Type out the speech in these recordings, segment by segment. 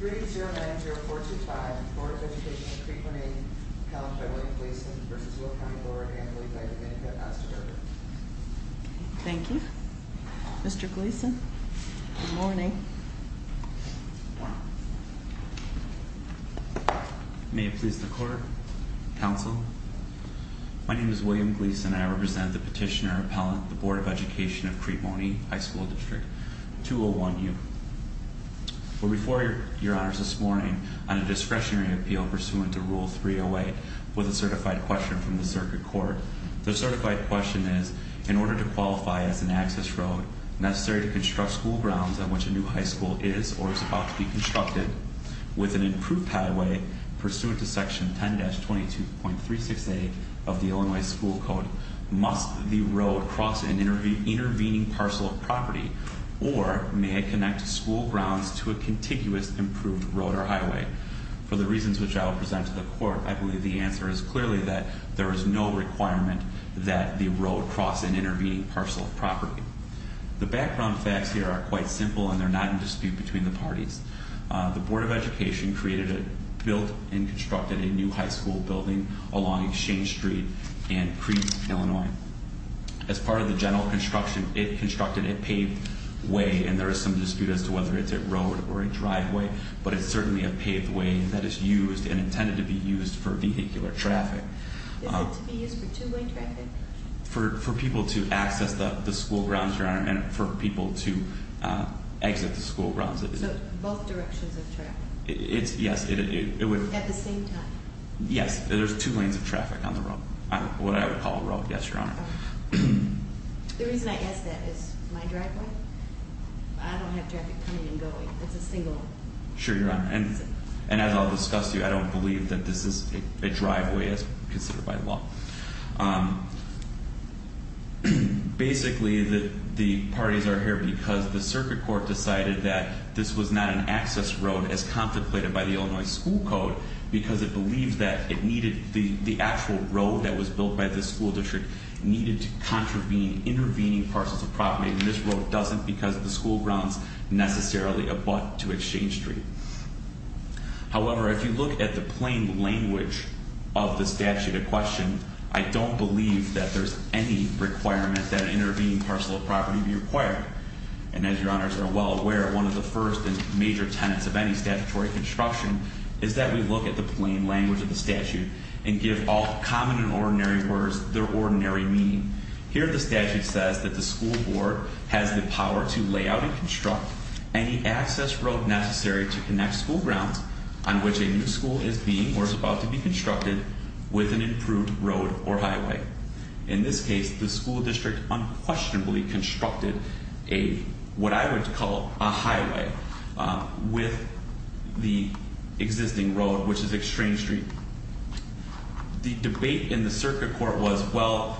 3-090-425 Board of Education of Crete-Monee College by William Gleason v. Will County Board and lead by Domenica Astadirba Thank you. Mr. Gleason, good morning. Good morning. May it please the Court, Counsel, my name is William Gleason and I represent the petitioner appellant of the Board of Education of Crete-Monee High School District 201-U. We're before Your Honors this morning on a discretionary appeal pursuant to Rule 308 with a certified question from the Circuit Court. The certified question is, in order to qualify as an access road necessary to construct school grounds on which a new high school is or is about to be constructed with an improved highway pursuant to Section 10-22.36a of the Illinois School Code, must the road cross an intervening parcel of property or may it connect school grounds to a contiguous improved road or highway? For the reasons which I will present to the Court, I believe the answer is clearly that there is no requirement that the road cross an intervening parcel of property. The background facts here are quite simple and they're not in dispute between the parties. The Board of Education created, built and constructed a new high school building along Exchange Street in Crete, Illinois. As part of the general construction, it constructed a paved way and there is some dispute as to whether it's a road or a driveway, but it's certainly a paved way that is used and intended to be used for vehicular traffic. Is it to be used for two-way traffic? For people to access the school grounds, Your Honor, and for people to exit the school grounds. So both directions of traffic? Yes, it would. At the same time? Yes, there's two lanes of traffic on the road, what I would call a road, yes, Your Honor. The reason I ask that is my driveway, I don't have traffic coming and going, it's a single lane. Sure, Your Honor, and as I'll discuss to you, I don't believe that this is a driveway as considered by law. Basically, the parties are here because the circuit court decided that this was not an access road as contemplated by the Illinois school code because it believed that it needed, the actual road that was built by the school district needed to contravene, intervening parcels of property and this road doesn't because the school grounds necessarily abut to Exchange Street. However, if you look at the plain language of the statute in question, I don't believe that there's any requirement that an intervening parcel of property be required. And as Your Honors are well aware, one of the first and major tenets of any statutory construction is that we look at the plain language of the statute and give all common and ordinary words their ordinary meaning. Here the statute says that the school board has the power to lay out and construct any access road necessary to connect school grounds on which a new school is being or is about to be constructed with an improved road or highway. In this case, the school district unquestionably constructed a, what I would call a highway, with the existing road, which is Exchange Street. The debate in the circuit court was, well,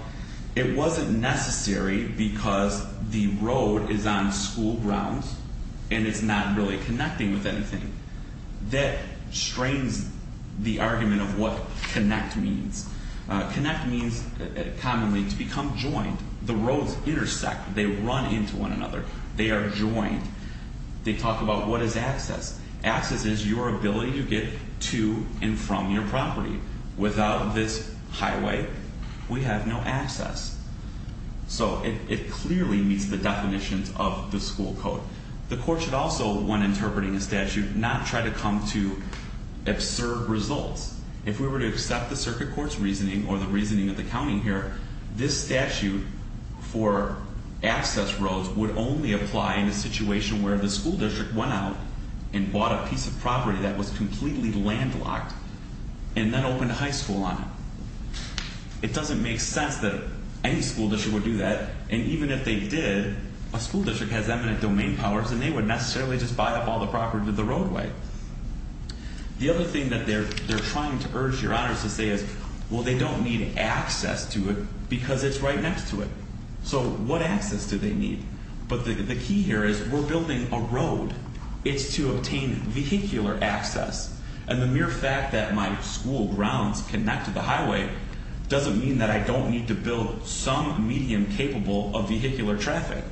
it wasn't necessary because the road is on school grounds and it's not really connecting with anything. That strains the argument of what connect means. Connect means, commonly, to become joined. The roads intersect, they run into one another, they are joined. They talk about what is access. Access is your ability to get to and from your property. Without this highway, we have no access. So it clearly meets the definitions of the school code. The court should also, when interpreting a statute, not try to come to absurd results. If we were to accept the circuit court's reasoning or the reasoning of the county here, this statute for access roads would only apply in a situation where the school district went out and bought a piece of property that was completely landlocked and then opened a high school on it. It doesn't make sense that any school district would do that. And even if they did, a school district has eminent domain powers and they would necessarily just buy up all the property with the roadway. The other thing that they're trying to urge your honors to say is, well, they don't need access to it because it's right next to it. So what access do they need? But the key here is we're building a road. It's to obtain vehicular access. And the mere fact that my school grounds connect to the highway doesn't mean that I don't need to build some medium capable of vehicular traffic.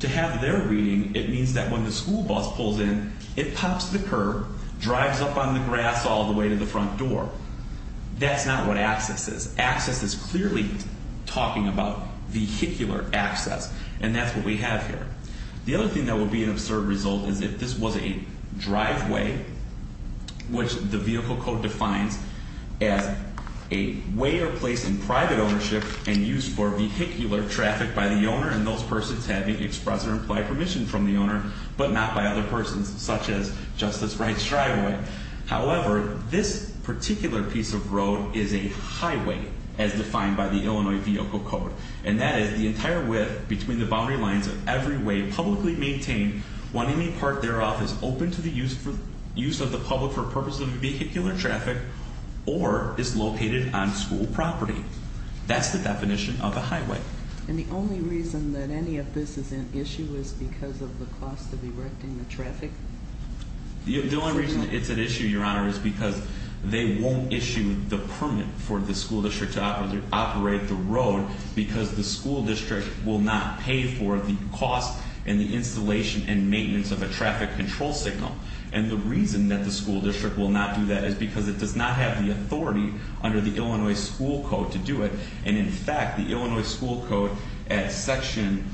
To have their reading, it means that when the school bus pulls in, it pops the curb, drives up on the grass all the way to the front door. That's not what access is. Access is clearly talking about vehicular access. And that's what we have here. The other thing that would be an absurd result is if this was a driveway, which the vehicle code defines as a way or place in private ownership and used for vehicular traffic by the owner and those persons having express or implied permission from the owner, but not by other persons such as Justice Wright's driveway. However, this particular piece of road is a highway as defined by the Illinois Vehicle Code. And that is the entire width between the boundary lines of every way publicly maintained when any part thereof is open to the use of the public for purposes of vehicular traffic or is located on school property. That's the definition of a highway. And the only reason that any of this is an issue is because of the cost of erecting the traffic? The only reason it's an issue, Your Honor, is because they won't issue the permit for the school district to operate the road because the school district will not pay for the cost and the installation and maintenance of a traffic control signal. And the reason that the school district will not do that is because it does not have the authority under the Illinois School Code to do it. And in fact, the Illinois School Code at Section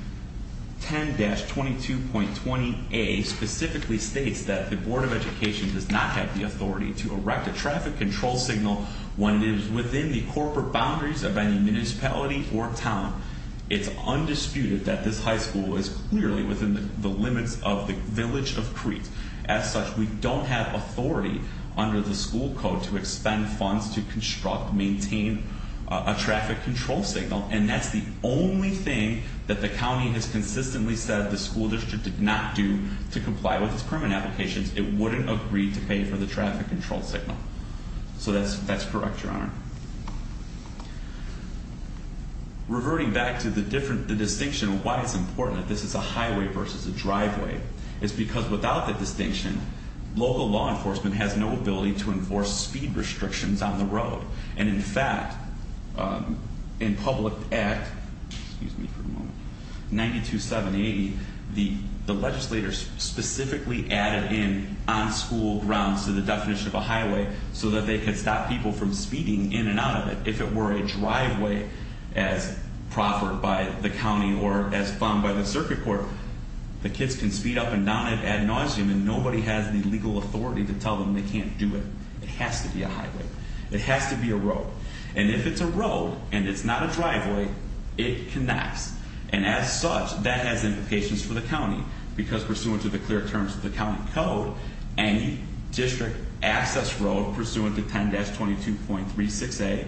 10-22.20a specifically states that the Board of Education does not have the authority to erect a traffic control signal when it is within the corporate boundaries of any municipality or town. It's undisputed that this high school is clearly within the limits of the village of Crete. As such, we don't have authority under the school code to expend funds to construct, maintain a traffic control signal. And that's the only thing that the county has consistently said the school district did not do to comply with its permit applications. It wouldn't agree to pay for the traffic control signal. So that's correct, Your Honor. Reverting back to the distinction of why it's important that this is a highway versus a driveway, it's because without the distinction, local law enforcement has no ability to enforce speed restrictions on the road. And in fact, in Public Act 92-780, the legislators specifically added in on-school grounds to the definition of a highway so that they could stop people from speeding in and out of it. If it were a driveway as proffered by the county or as funded by the circuit court, the kids can speed up and down it ad nauseum and nobody has the legal authority to tell them they can't do it. It has to be a highway. It has to be a road. And if it's a road and it's not a driveway, it connects. And as such, that has implications for the county because pursuant to the clear terms of the county code, any district access road pursuant to 10-22.36a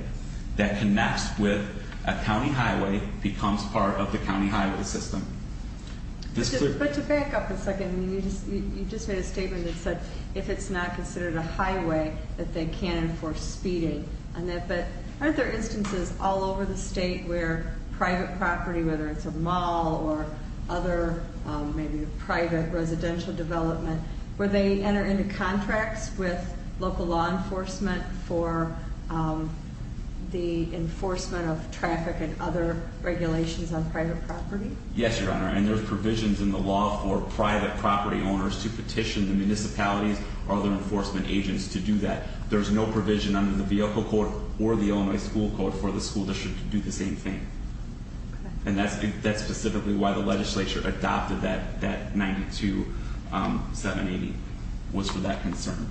that connects with a county highway becomes part of the county highway system. But to back up a second, you just made a statement that said if it's not considered a highway, that they can't enforce speeding. But aren't there instances all over the state where private property, whether it's a mall or other maybe private residential development, where they enter into contracts with local law enforcement for the enforcement of traffic and other regulations on private property? Yes, Your Honor, and there's provisions in the law for private property owners to petition the municipalities or other enforcement agents to do that. There's no provision under the vehicle code or the Illinois school code for the school district to do the same thing. And that's specifically why the legislature adopted that 92780, was for that concern.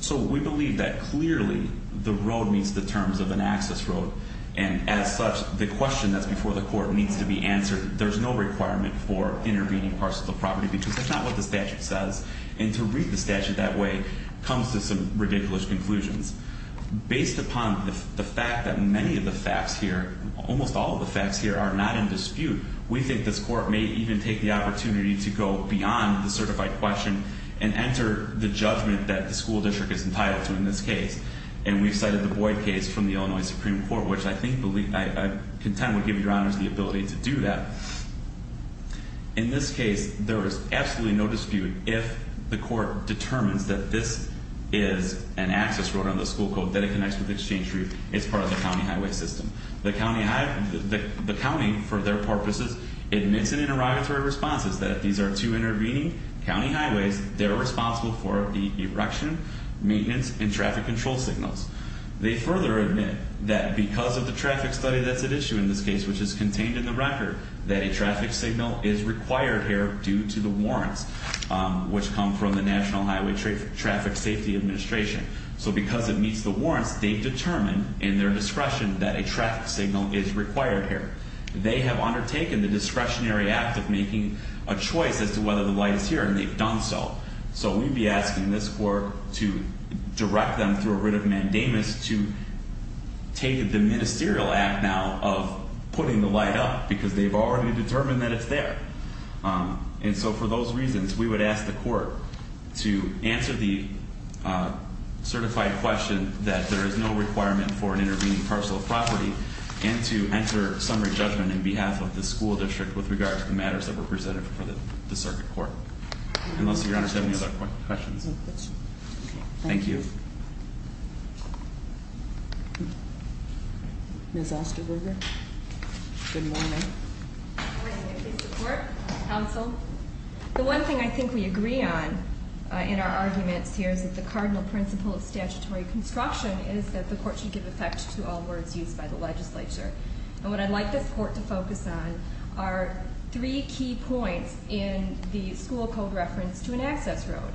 So we believe that clearly the road meets the terms of an access road. And as such, the question that's before the court needs to be answered. There's no requirement for intervening parts of the property because that's not what the statute says. And to read the statute that way comes to some ridiculous conclusions. Based upon the fact that many of the facts here, almost all of the facts here, are not in dispute, we think this court may even take the opportunity to go beyond the certified question and enter the judgment that the school district is entitled to in this case. And we've cited the Boyd case from the Illinois Supreme Court, which I think, I contend, would give Your Honors the ability to do that. In this case, there is absolutely no dispute if the court determines that this is an access road under the school code that it connects with Exchange Street. It's part of the county highway system. The county, for their purposes, admits in interrogatory responses that if these are two intervening county highways, they're responsible for the erection, maintenance, and traffic control signals. They further admit that because of the traffic study that's at issue in this case, which is contained in the record, that a traffic signal is required here due to the warrants which come from the National Highway Traffic Safety Administration. So because it meets the warrants, they've determined in their discretion that a traffic signal is required here. They have undertaken the discretionary act of making a choice as to whether the light is here, and they've done so. So we'd be asking this court to direct them through a writ of mandamus to take the ministerial act now of putting the light up because they've already determined that it's there. And so for those reasons, we would ask the court to answer the certified question that there is no requirement for an intervening parcel of property and to enter summary judgment on behalf of the school district with regard to the matters that were presented before the circuit court. And let's see if Your Honors have any other questions. Thank you. Ms. Osterberger, good morning. Good morning, Mr. Court, counsel. The one thing I think we agree on in our arguments here is that the cardinal principle of statutory construction is that the court should give effect to all words used by the legislature. And what I'd like this court to focus on are three key points in the school code reference to an access road.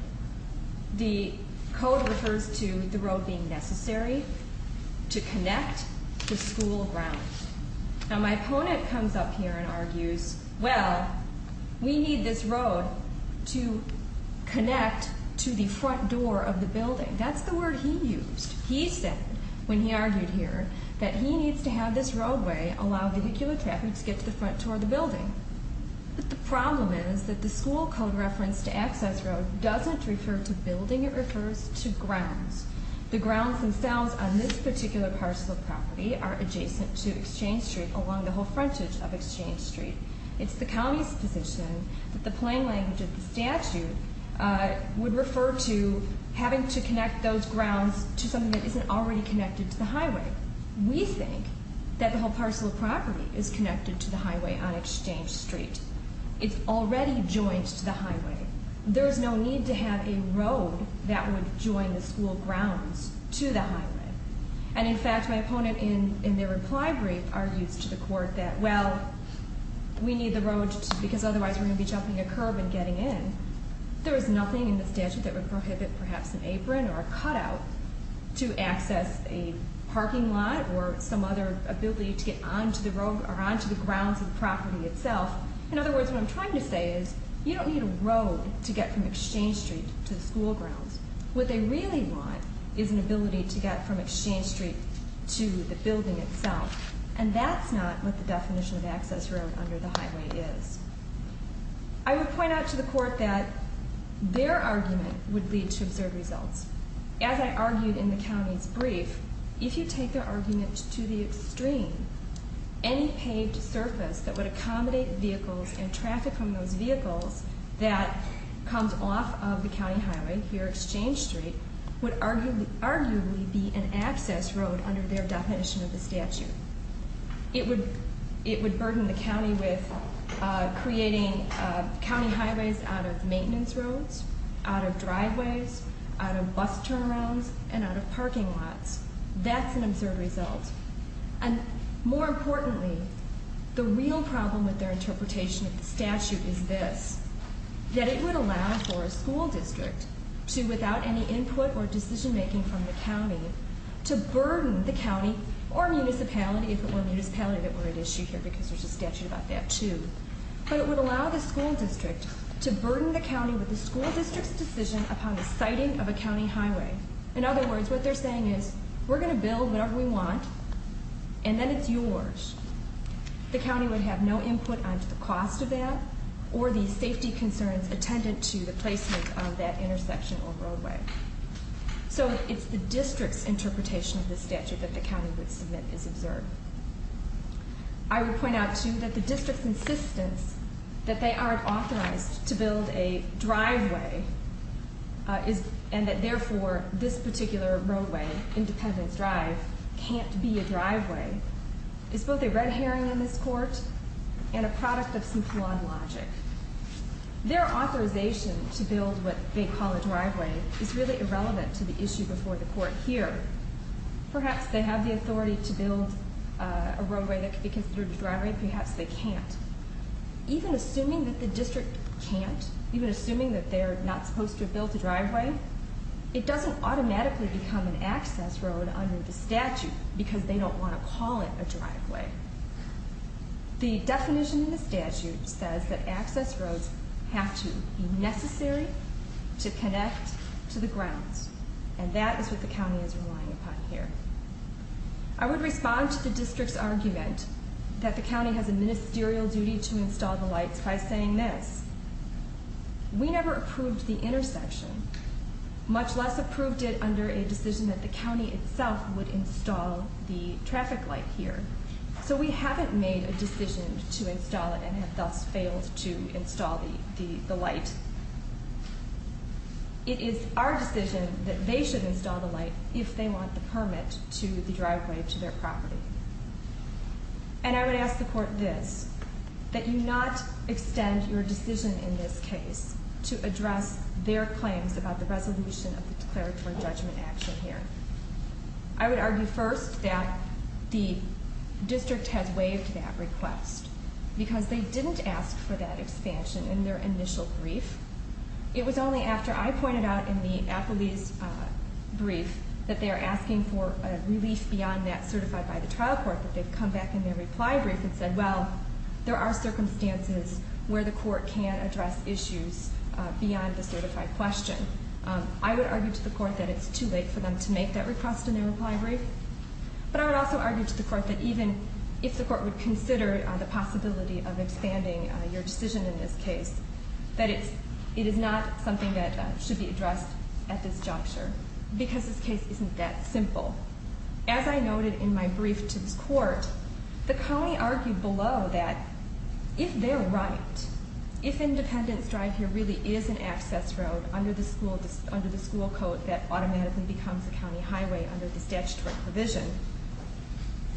The code refers to the road being necessary to connect the school ground. Now, my opponent comes up here and argues, well, we need this road to connect to the front door of the building. That's the word he used. He said when he argued here that he needs to have this roadway But the problem is that the school code reference to access road doesn't refer to building, it refers to grounds. The grounds themselves on this particular parcel of property are adjacent to Exchange Street along the whole frontage of Exchange Street. It's the county's position that the plain language of the statute would refer to having to connect those grounds to something that isn't already connected to the highway. We think that the whole parcel of property is connected to the highway on Exchange Street. It's already joined to the highway. There's no need to have a road that would join the school grounds to the highway. And in fact, my opponent in their reply brief argues to the court that, well, we need the road because otherwise we're going to be jumping a curb and getting in. There is nothing in the statute that would prohibit perhaps an apron or a cutout to access a parking lot or some other ability to get onto the grounds of the property itself. In other words, what I'm trying to say is, you don't need a road to get from Exchange Street to the school grounds. What they really want is an ability to get from Exchange Street to the building itself. And that's not what the definition of access road under the highway is. I would point out to the court that their argument would lead to absurd results. As I argued in the county's brief, if you take their argument to the extreme, any paved surface that would accommodate vehicles and traffic from those vehicles that comes off of the county highway here at Exchange Street would arguably be an access road under their definition of the statute. It would burden the county with creating county highways out of maintenance roads, out of driveways, out of bus turnarounds, and out of parking lots. That's an absurd result. And more importantly, the real problem with their interpretation of the statute is this, that it would allow for a school district to, without any input or decision-making from the county, to burden the county or municipality, if it were a municipality that were at issue here because there's a statute about that too, but it would allow the school district to burden the county with the school district's decision upon the siting of a county highway. In other words, what they're saying is, we're going to build whatever we want, and then it's yours. The county would have no input onto the cost of that or the safety concerns attendant to the placement of that intersection or roadway. So it's the district's interpretation of the statute that the county would submit is absurd. I would point out, too, that the district's insistence that they aren't authorized to build a driveway and that, therefore, this particular roadway, Independence Drive, can't be a driveway, is both a red herring in this court and a product of some flawed logic. Their authorization to build what they call a driveway is really irrelevant to the issue before the court here. Perhaps they have the authority to build a roadway that could be considered a driveway, perhaps they can't. Even assuming that the district can't, even assuming that they're not supposed to build a driveway, it doesn't automatically become an access road under the statute because they don't want to call it a driveway. The definition in the statute says that access roads have to be necessary to connect to the grounds, and that is what the county is relying upon here. I would respond to the district's argument that the county has a ministerial duty to install the lights by saying this. We never approved the intersection, much less approved it under a decision that the county itself would install the traffic light here. So we haven't made a decision to install it and have thus failed to install the light. And it is our decision that they should install the light if they want the permit to the driveway to their property. And I would ask the court this, that you not extend your decision in this case to address their claims about the resolution of the declaratory judgment action here. I would argue first that the district has waived that request because they didn't ask for that expansion in their initial brief. It was only after I pointed out in the appellee's brief that they are asking for a relief beyond that certified by the trial court that they've come back in their reply brief and said, well, there are circumstances where the court can address issues beyond the certified question. I would argue to the court that it's too late for them to make that request in their reply brief. But I would also argue to the court that even if the court would consider the possibility of expanding your decision in this case, that it is not something that should be addressed at this juncture because this case isn't that simple. As I noted in my brief to this court, the county argued below that if they're right, if independence drive here really is an access road under the school code that automatically becomes a county highway under the statutory provision,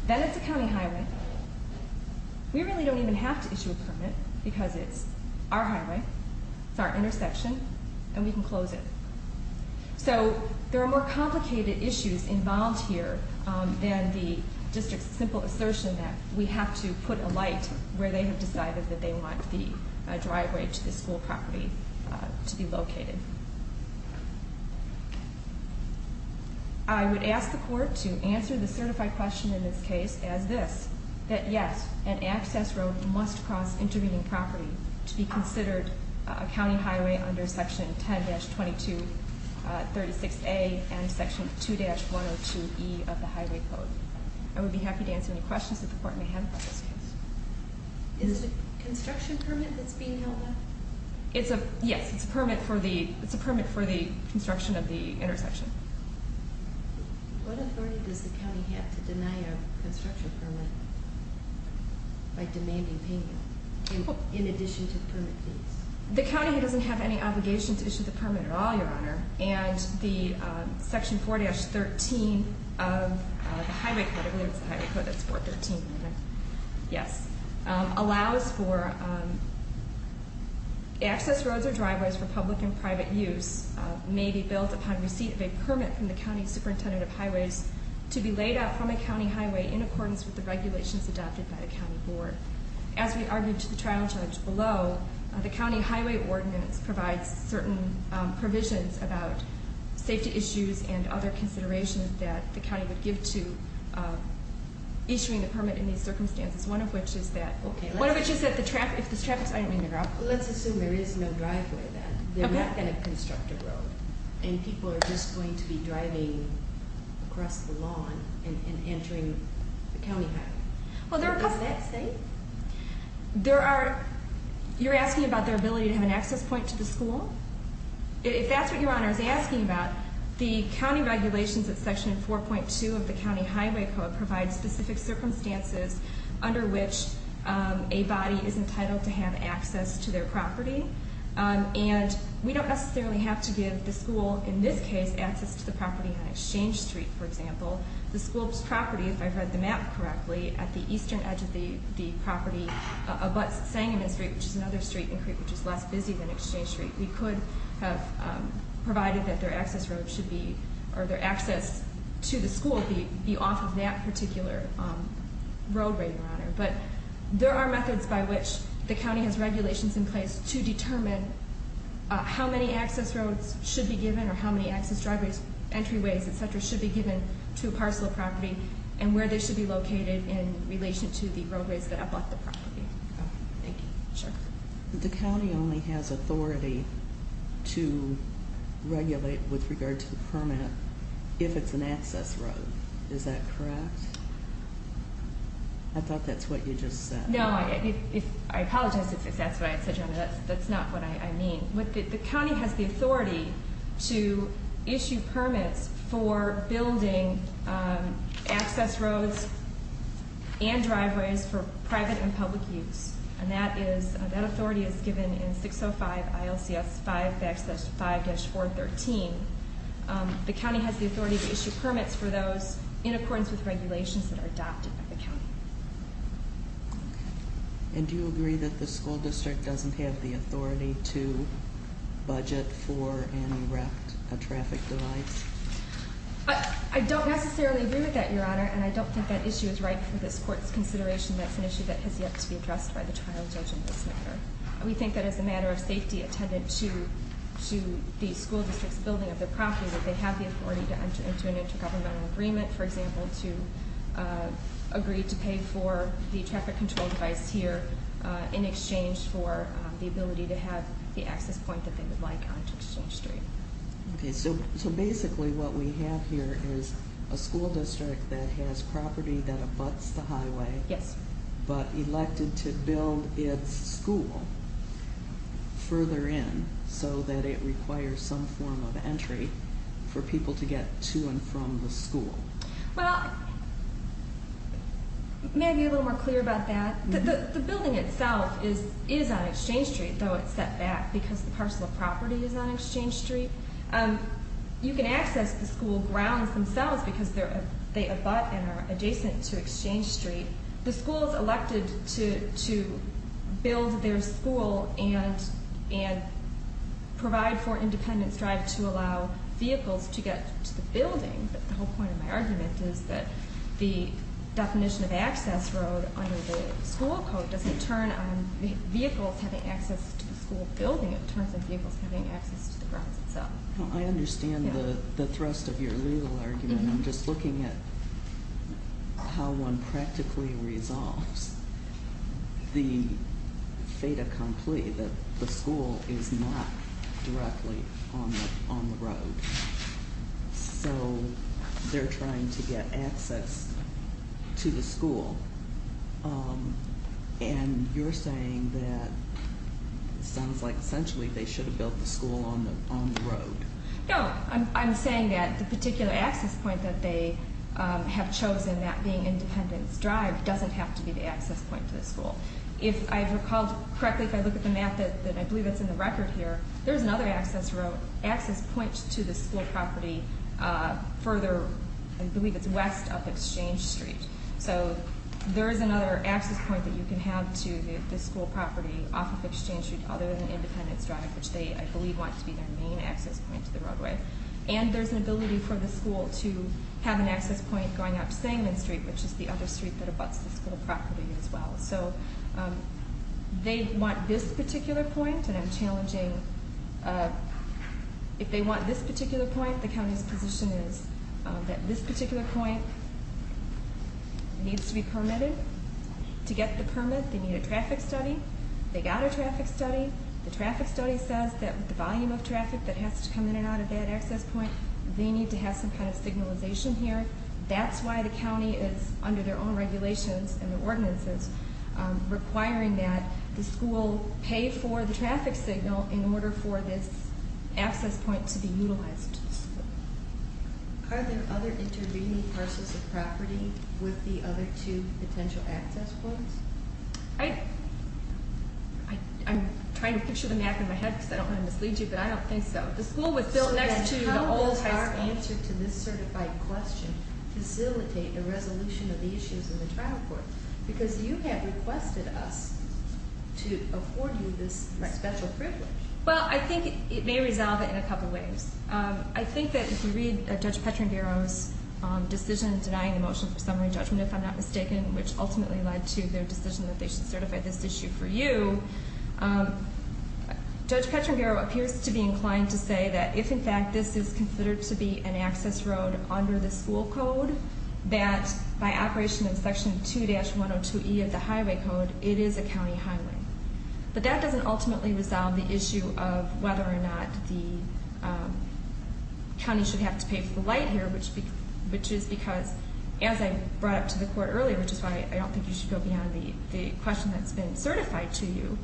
then it's a county highway. We really don't even have to issue a permit because it's our highway, it's our intersection, and we can close it. So there are more complicated issues involved here than the district's simple assertion that we have to put a light where they have decided that they want the driveway to the school property to be located. I would ask the court to answer the certified question in this case as this, that yes, an access road must cross intervening property to be considered a county highway under Section 10-22-36A and Section 2-102E of the Highway Code. I would be happy to answer any questions that the court may have about this case. Is it a construction permit that's being held up? Yes, it's a permit for the construction of the intersection. What authority does the county have to deny a construction permit by demanding payment in addition to the permit fees? The county doesn't have any obligation to issue the permit at all, Your Honor, and the Section 4-13 of the Highway Code, I believe it's the Highway Code that's 4-13, yes, allows for access roads or driveways for public and private use may be built upon receipt of a permit from the county superintendent of highways to be laid out from a county highway in accordance with the regulations adopted by the county board. As we argued to the trial judge below, the county highway ordinance provides certain provisions about safety issues and other considerations that the county would give to issuing the permit in these circumstances, one of which is that if there's traffic, I didn't mean to interrupt. Let's assume there is no driveway then. They're not going to construct a road, and people are just going to be driving across the lawn and entering the county highway. Is that safe? You're asking about their ability to have an access point to the school? If that's what Your Honor is asking about, the county regulations of Section 4.2 of the County Highway Code provide specific circumstances under which a body is entitled to have access to their property, and we don't necessarily have to give the school, in this case, access to the property on Exchange Street, for example. The school's property, if I've read the map correctly, at the eastern edge of the property abuts Sangamon Street, which is another street in Creek, which is less busy than Exchange Street. We could have provided that their access road should be, or their access to the school be off of that particular roadway, Your Honor. But there are methods by which the county has regulations in place to determine how many access roads should be given or how many access driveways, entryways, et cetera, should be given to a parcel of property and where they should be located in relation to the roadways that abut the property. Thank you. Sure. The county only has authority to regulate with regard to the permit if it's an access road. Is that correct? I thought that's what you just said. No, I apologize if that's what I said, Your Honor. That's not what I mean. The county has the authority to issue permits for building access roads and driveways for private and public use, and that authority is given in 605 ILCS 5-5-413. The county has the authority to issue permits for those in accordance with regulations that are adopted by the county. And do you agree that the school district doesn't have the authority to budget for and erect a traffic device? I don't necessarily agree with that, Your Honor, and I don't think that issue is right for this court's consideration. That's an issue that has yet to be addressed by the trial judge in this matter. We think that as a matter of safety attendant to the school district's building of their property, that they have the authority to enter into an intergovernmental agreement, for example, to agree to pay for the traffic control device here in exchange for the ability to have the access point that they would like on Exchange Street. Okay, so basically what we have here is a school district that has property that abuts the highway. Yes. But elected to build its school further in so that it requires some form of entry for people to get to and from the school. Well, may I be a little more clear about that? The building itself is on Exchange Street, though it's set back because the parcel of property is on Exchange Street. You can access the school grounds themselves because they abut and are adjacent to Exchange Street. The school is elected to build their school and provide for independent stride to allow vehicles to get to the building, but the whole point of my argument is that the definition of access road under the school code doesn't turn on vehicles having access to the school building. It turns on vehicles having access to the grounds itself. I understand the thrust of your legal argument. I'm just looking at how one practically resolves the fait accompli that the school is not directly on the road. So they're trying to get access to the school, and you're saying that it sounds like essentially they should have built the school on the road. No, I'm saying that the particular access point that they have chosen, that being independent stride, doesn't have to be the access point to the school. If I recall correctly, if I look at the map, and I believe it's in the record here, there's another access point to the school property further, I believe it's west of Exchange Street. So there's another access point that you can have to the school property off of Exchange Street other than independent stride, which they, I believe, want to be their main access point to the roadway. And there's an ability for the school to have an access point going out to Sangamon Street, which is the other street that abuts the school property as well. So they want this particular point, and I'm challenging, if they want this particular point, the county's position is that this particular point needs to be permitted. To get the permit, they need a traffic study. They got a traffic study. The traffic study says that the volume of traffic that has to come in and out of that access point, they need to have some kind of signalization here. That's why the county is, under their own regulations and ordinances, requiring that the school pay for the traffic signal in order for this access point to be utilized. Are there other intervening parcels of property with the other two potential access points? I'm trying to picture the map in my head because I don't want to mislead you, but I don't think so. The school was built next to the old high school. Does my answer to this certified question facilitate a resolution of the issues in the trial court? Because you have requested us to afford you this special privilege. Well, I think it may resolve it in a couple of ways. I think that if you read Judge Petrangaro's decision denying the motion for summary judgment, if I'm not mistaken, which ultimately led to their decision that they should certify this issue for you, Judge Petrangaro appears to be inclined to say that if, in fact, this is considered to be an access road under the school code, that by operation of Section 2-102E of the highway code, it is a county highway. But that doesn't ultimately resolve the issue of whether or not the county should have to pay for the light here, which is because, as I brought up to the court earlier, which is why I don't think you should go beyond the question that's been certified to you,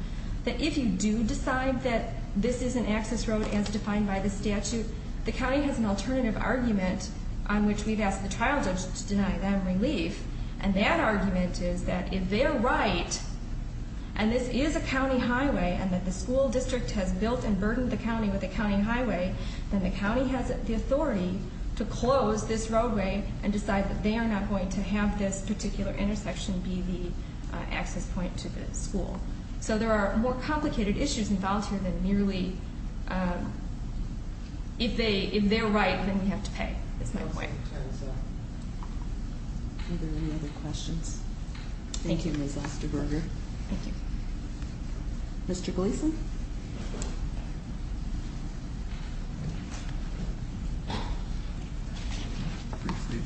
that if you do decide that this is an access road as defined by the statute, the county has an alternative argument on which we've asked the trial judge to deny them relief. And that argument is that if they're right and this is a county highway and that the school district has built and burdened the county with a county highway, then the county has the authority to close this roadway and decide that they are not going to have this particular intersection be the access point to the school. So there are more complicated issues involved here than merely if they're right, then we have to pay. That's my point. Are there any other questions? Thank you, Ms. Osterberger. Thank you. Mr. Gleason?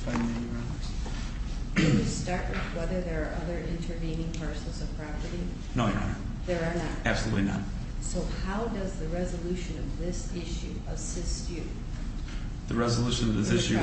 Can we start with whether there are other intervening parcels of property? No, Your Honor. There are not? Absolutely not. So how does the resolution of this issue assist you? The resolution of this issue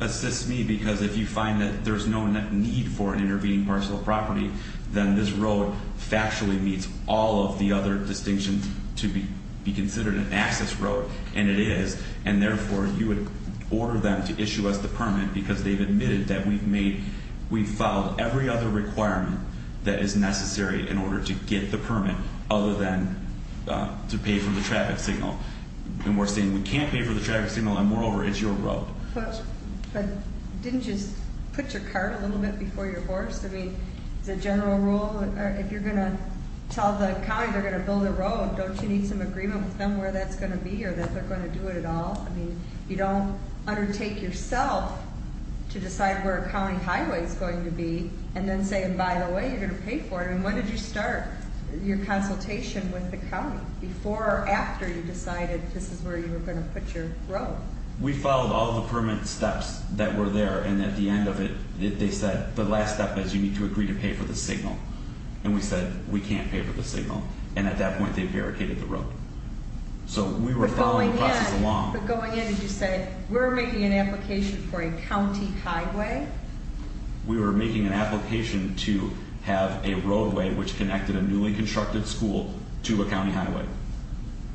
assists me because if you find that there's no need for an intervening parcel of property, then this road factually meets all of the other distinctions to be considered an access road, and it is. And therefore, you would order them to issue us the permit because they've admitted that we've made, we've filed every other requirement that is necessary in order to get the permit other than to pay for the traffic signal. And we're saying we can't pay for the traffic signal, and moreover, it's your road. But didn't you put your car a little bit before your horse? I mean, the general rule, if you're going to tell the county they're going to build a road, don't you need some agreement with them where that's going to be or that they're going to do it at all? I mean, you don't undertake yourself to decide where a county highway is going to be and then say, and by the way, you're going to pay for it. I mean, when did you start your consultation with the county? Before or after you decided this is where you were going to put your road? We filed all the permit steps that were there, and at the end of it, they said, the last step is you need to agree to pay for the signal. And we said, we can't pay for the signal. And at that point, they barricaded the road. So we were following the process along. But going in, did you say, we're making an application for a county highway? We were making an application to have a roadway which connected a newly constructed school to a county highway.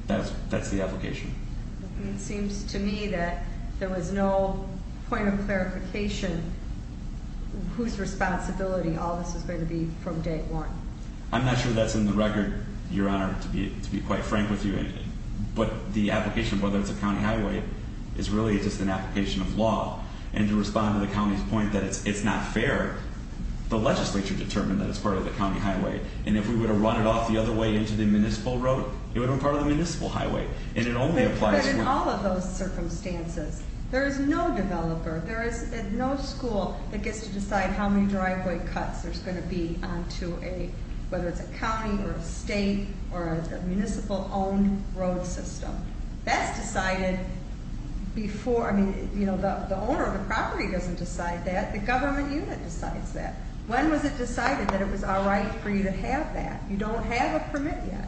That's the application. It seems to me that there was no point of clarification whose responsibility all this is going to be from day one. I'm not sure that's in the record, Your Honor, to be quite frank with you. But the application, whether it's a county highway, is really just an application of law. And to respond to the county's point that it's not fair, the legislature determined that it's part of the county highway. And if we would have run it off the other way into the municipal road, it would have been part of the municipal highway. But in all of those circumstances, there is no developer, there is no school that gets to decide how many driveway cuts there's going to be onto a, whether it's a county or a state or a municipal-owned road system. That's decided before, I mean, you know, the owner of the property doesn't decide that. The government unit decides that. When was it decided that it was all right for you to have that? You don't have a permit yet.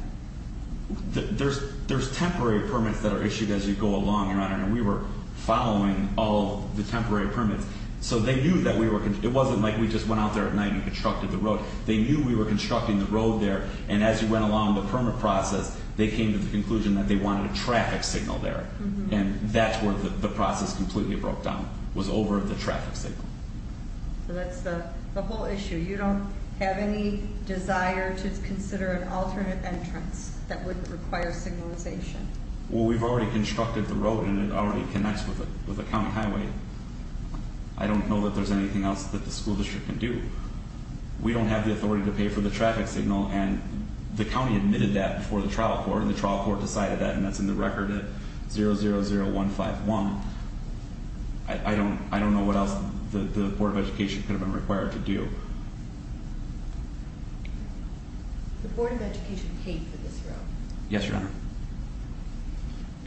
There's temporary permits that are issued as you go along, Your Honor, and we were following all the temporary permits. So they knew that we were, it wasn't like we just went out there at night and constructed the road. They knew we were constructing the road there, and as we went along the permit process, they came to the conclusion that they wanted a traffic signal there. And that's where the process completely broke down, was over the traffic signal. So that's the whole issue. You don't have any desire to consider an alternate entrance that wouldn't require signalization? Well, we've already constructed the road, and it already connects with the county highway. I don't know that there's anything else that the school district can do. We don't have the authority to pay for the traffic signal, and the county admitted that before the trial court, and the trial court decided that, and that's in the record at 000151. I don't know what else the Board of Education could have been required to do. The Board of Education paid for this road? Yes, Your Honor.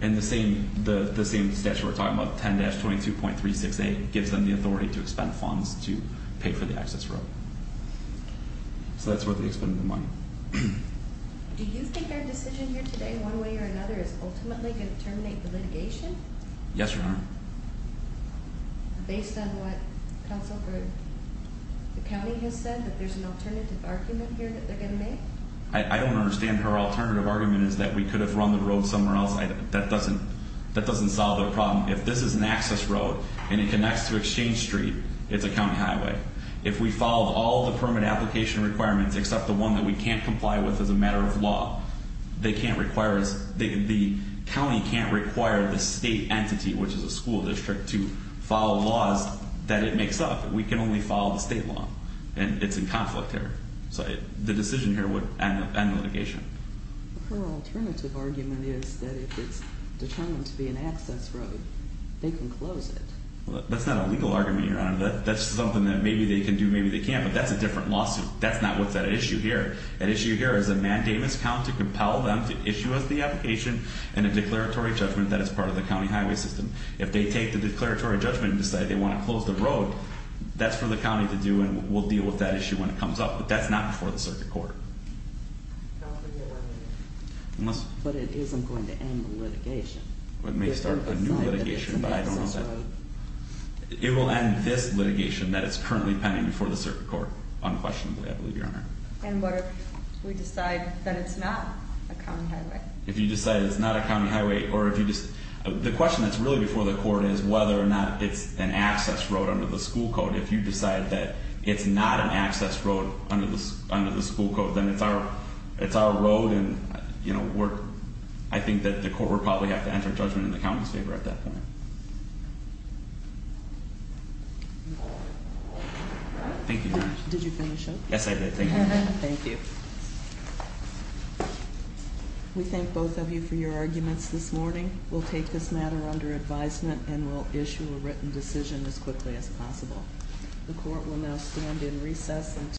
And the same statute we're talking about, 10-22.36a, gives them the authority to expend funds to pay for the access road. So that's where they expended the money. Do you think their decision here today, one way or another, is ultimately going to terminate the litigation? Yes, Your Honor. Based on what counsel for the county has said, that there's an alternative argument here that they're going to make? I don't understand her alternative argument is that we could have run the road somewhere else. That doesn't solve their problem. If this is an access road, and it connects to Exchange Street, it's a county highway. If we follow all the permit application requirements, except the one that we can't comply with as a matter of law, the county can't require the state entity, which is a school district, to follow laws that it makes up. We can only follow the state law. And it's in conflict here. So the decision here would end the litigation. Her alternative argument is that if it's determined to be an access road, they can close it. That's not a legal argument, Your Honor. That's something that maybe they can do, maybe they can't. But that's a different lawsuit. That's not what's at issue here. At issue here is a mandamus count to compel them to issue us the application and a declaratory judgment that is part of the county highway system. If they take the declaratory judgment and decide they want to close the road, that's for the county to do, and we'll deal with that issue when it comes up. But that's not before the circuit court. But it isn't going to end the litigation. It may start a new litigation, but I don't know that. It will end this litigation that is currently pending before the circuit court, unquestionably, I believe, Your Honor. And what if we decide that it's not a county highway? If you decide it's not a county highway or if you just... The question that's really before the court is whether or not it's an access road under the school code. If you decide that it's not an access road under the school code, then it's our road and, you know, we're... I think that the court would probably have to enter judgment in the county's favor at that point. Thank you, Your Honor. Did you finish up? Yes, I did. Thank you. Thank you. We thank both of you for your arguments this morning. We'll take this matter under advisement and we'll issue a written decision as quickly as possible. The court will now stand in recess until...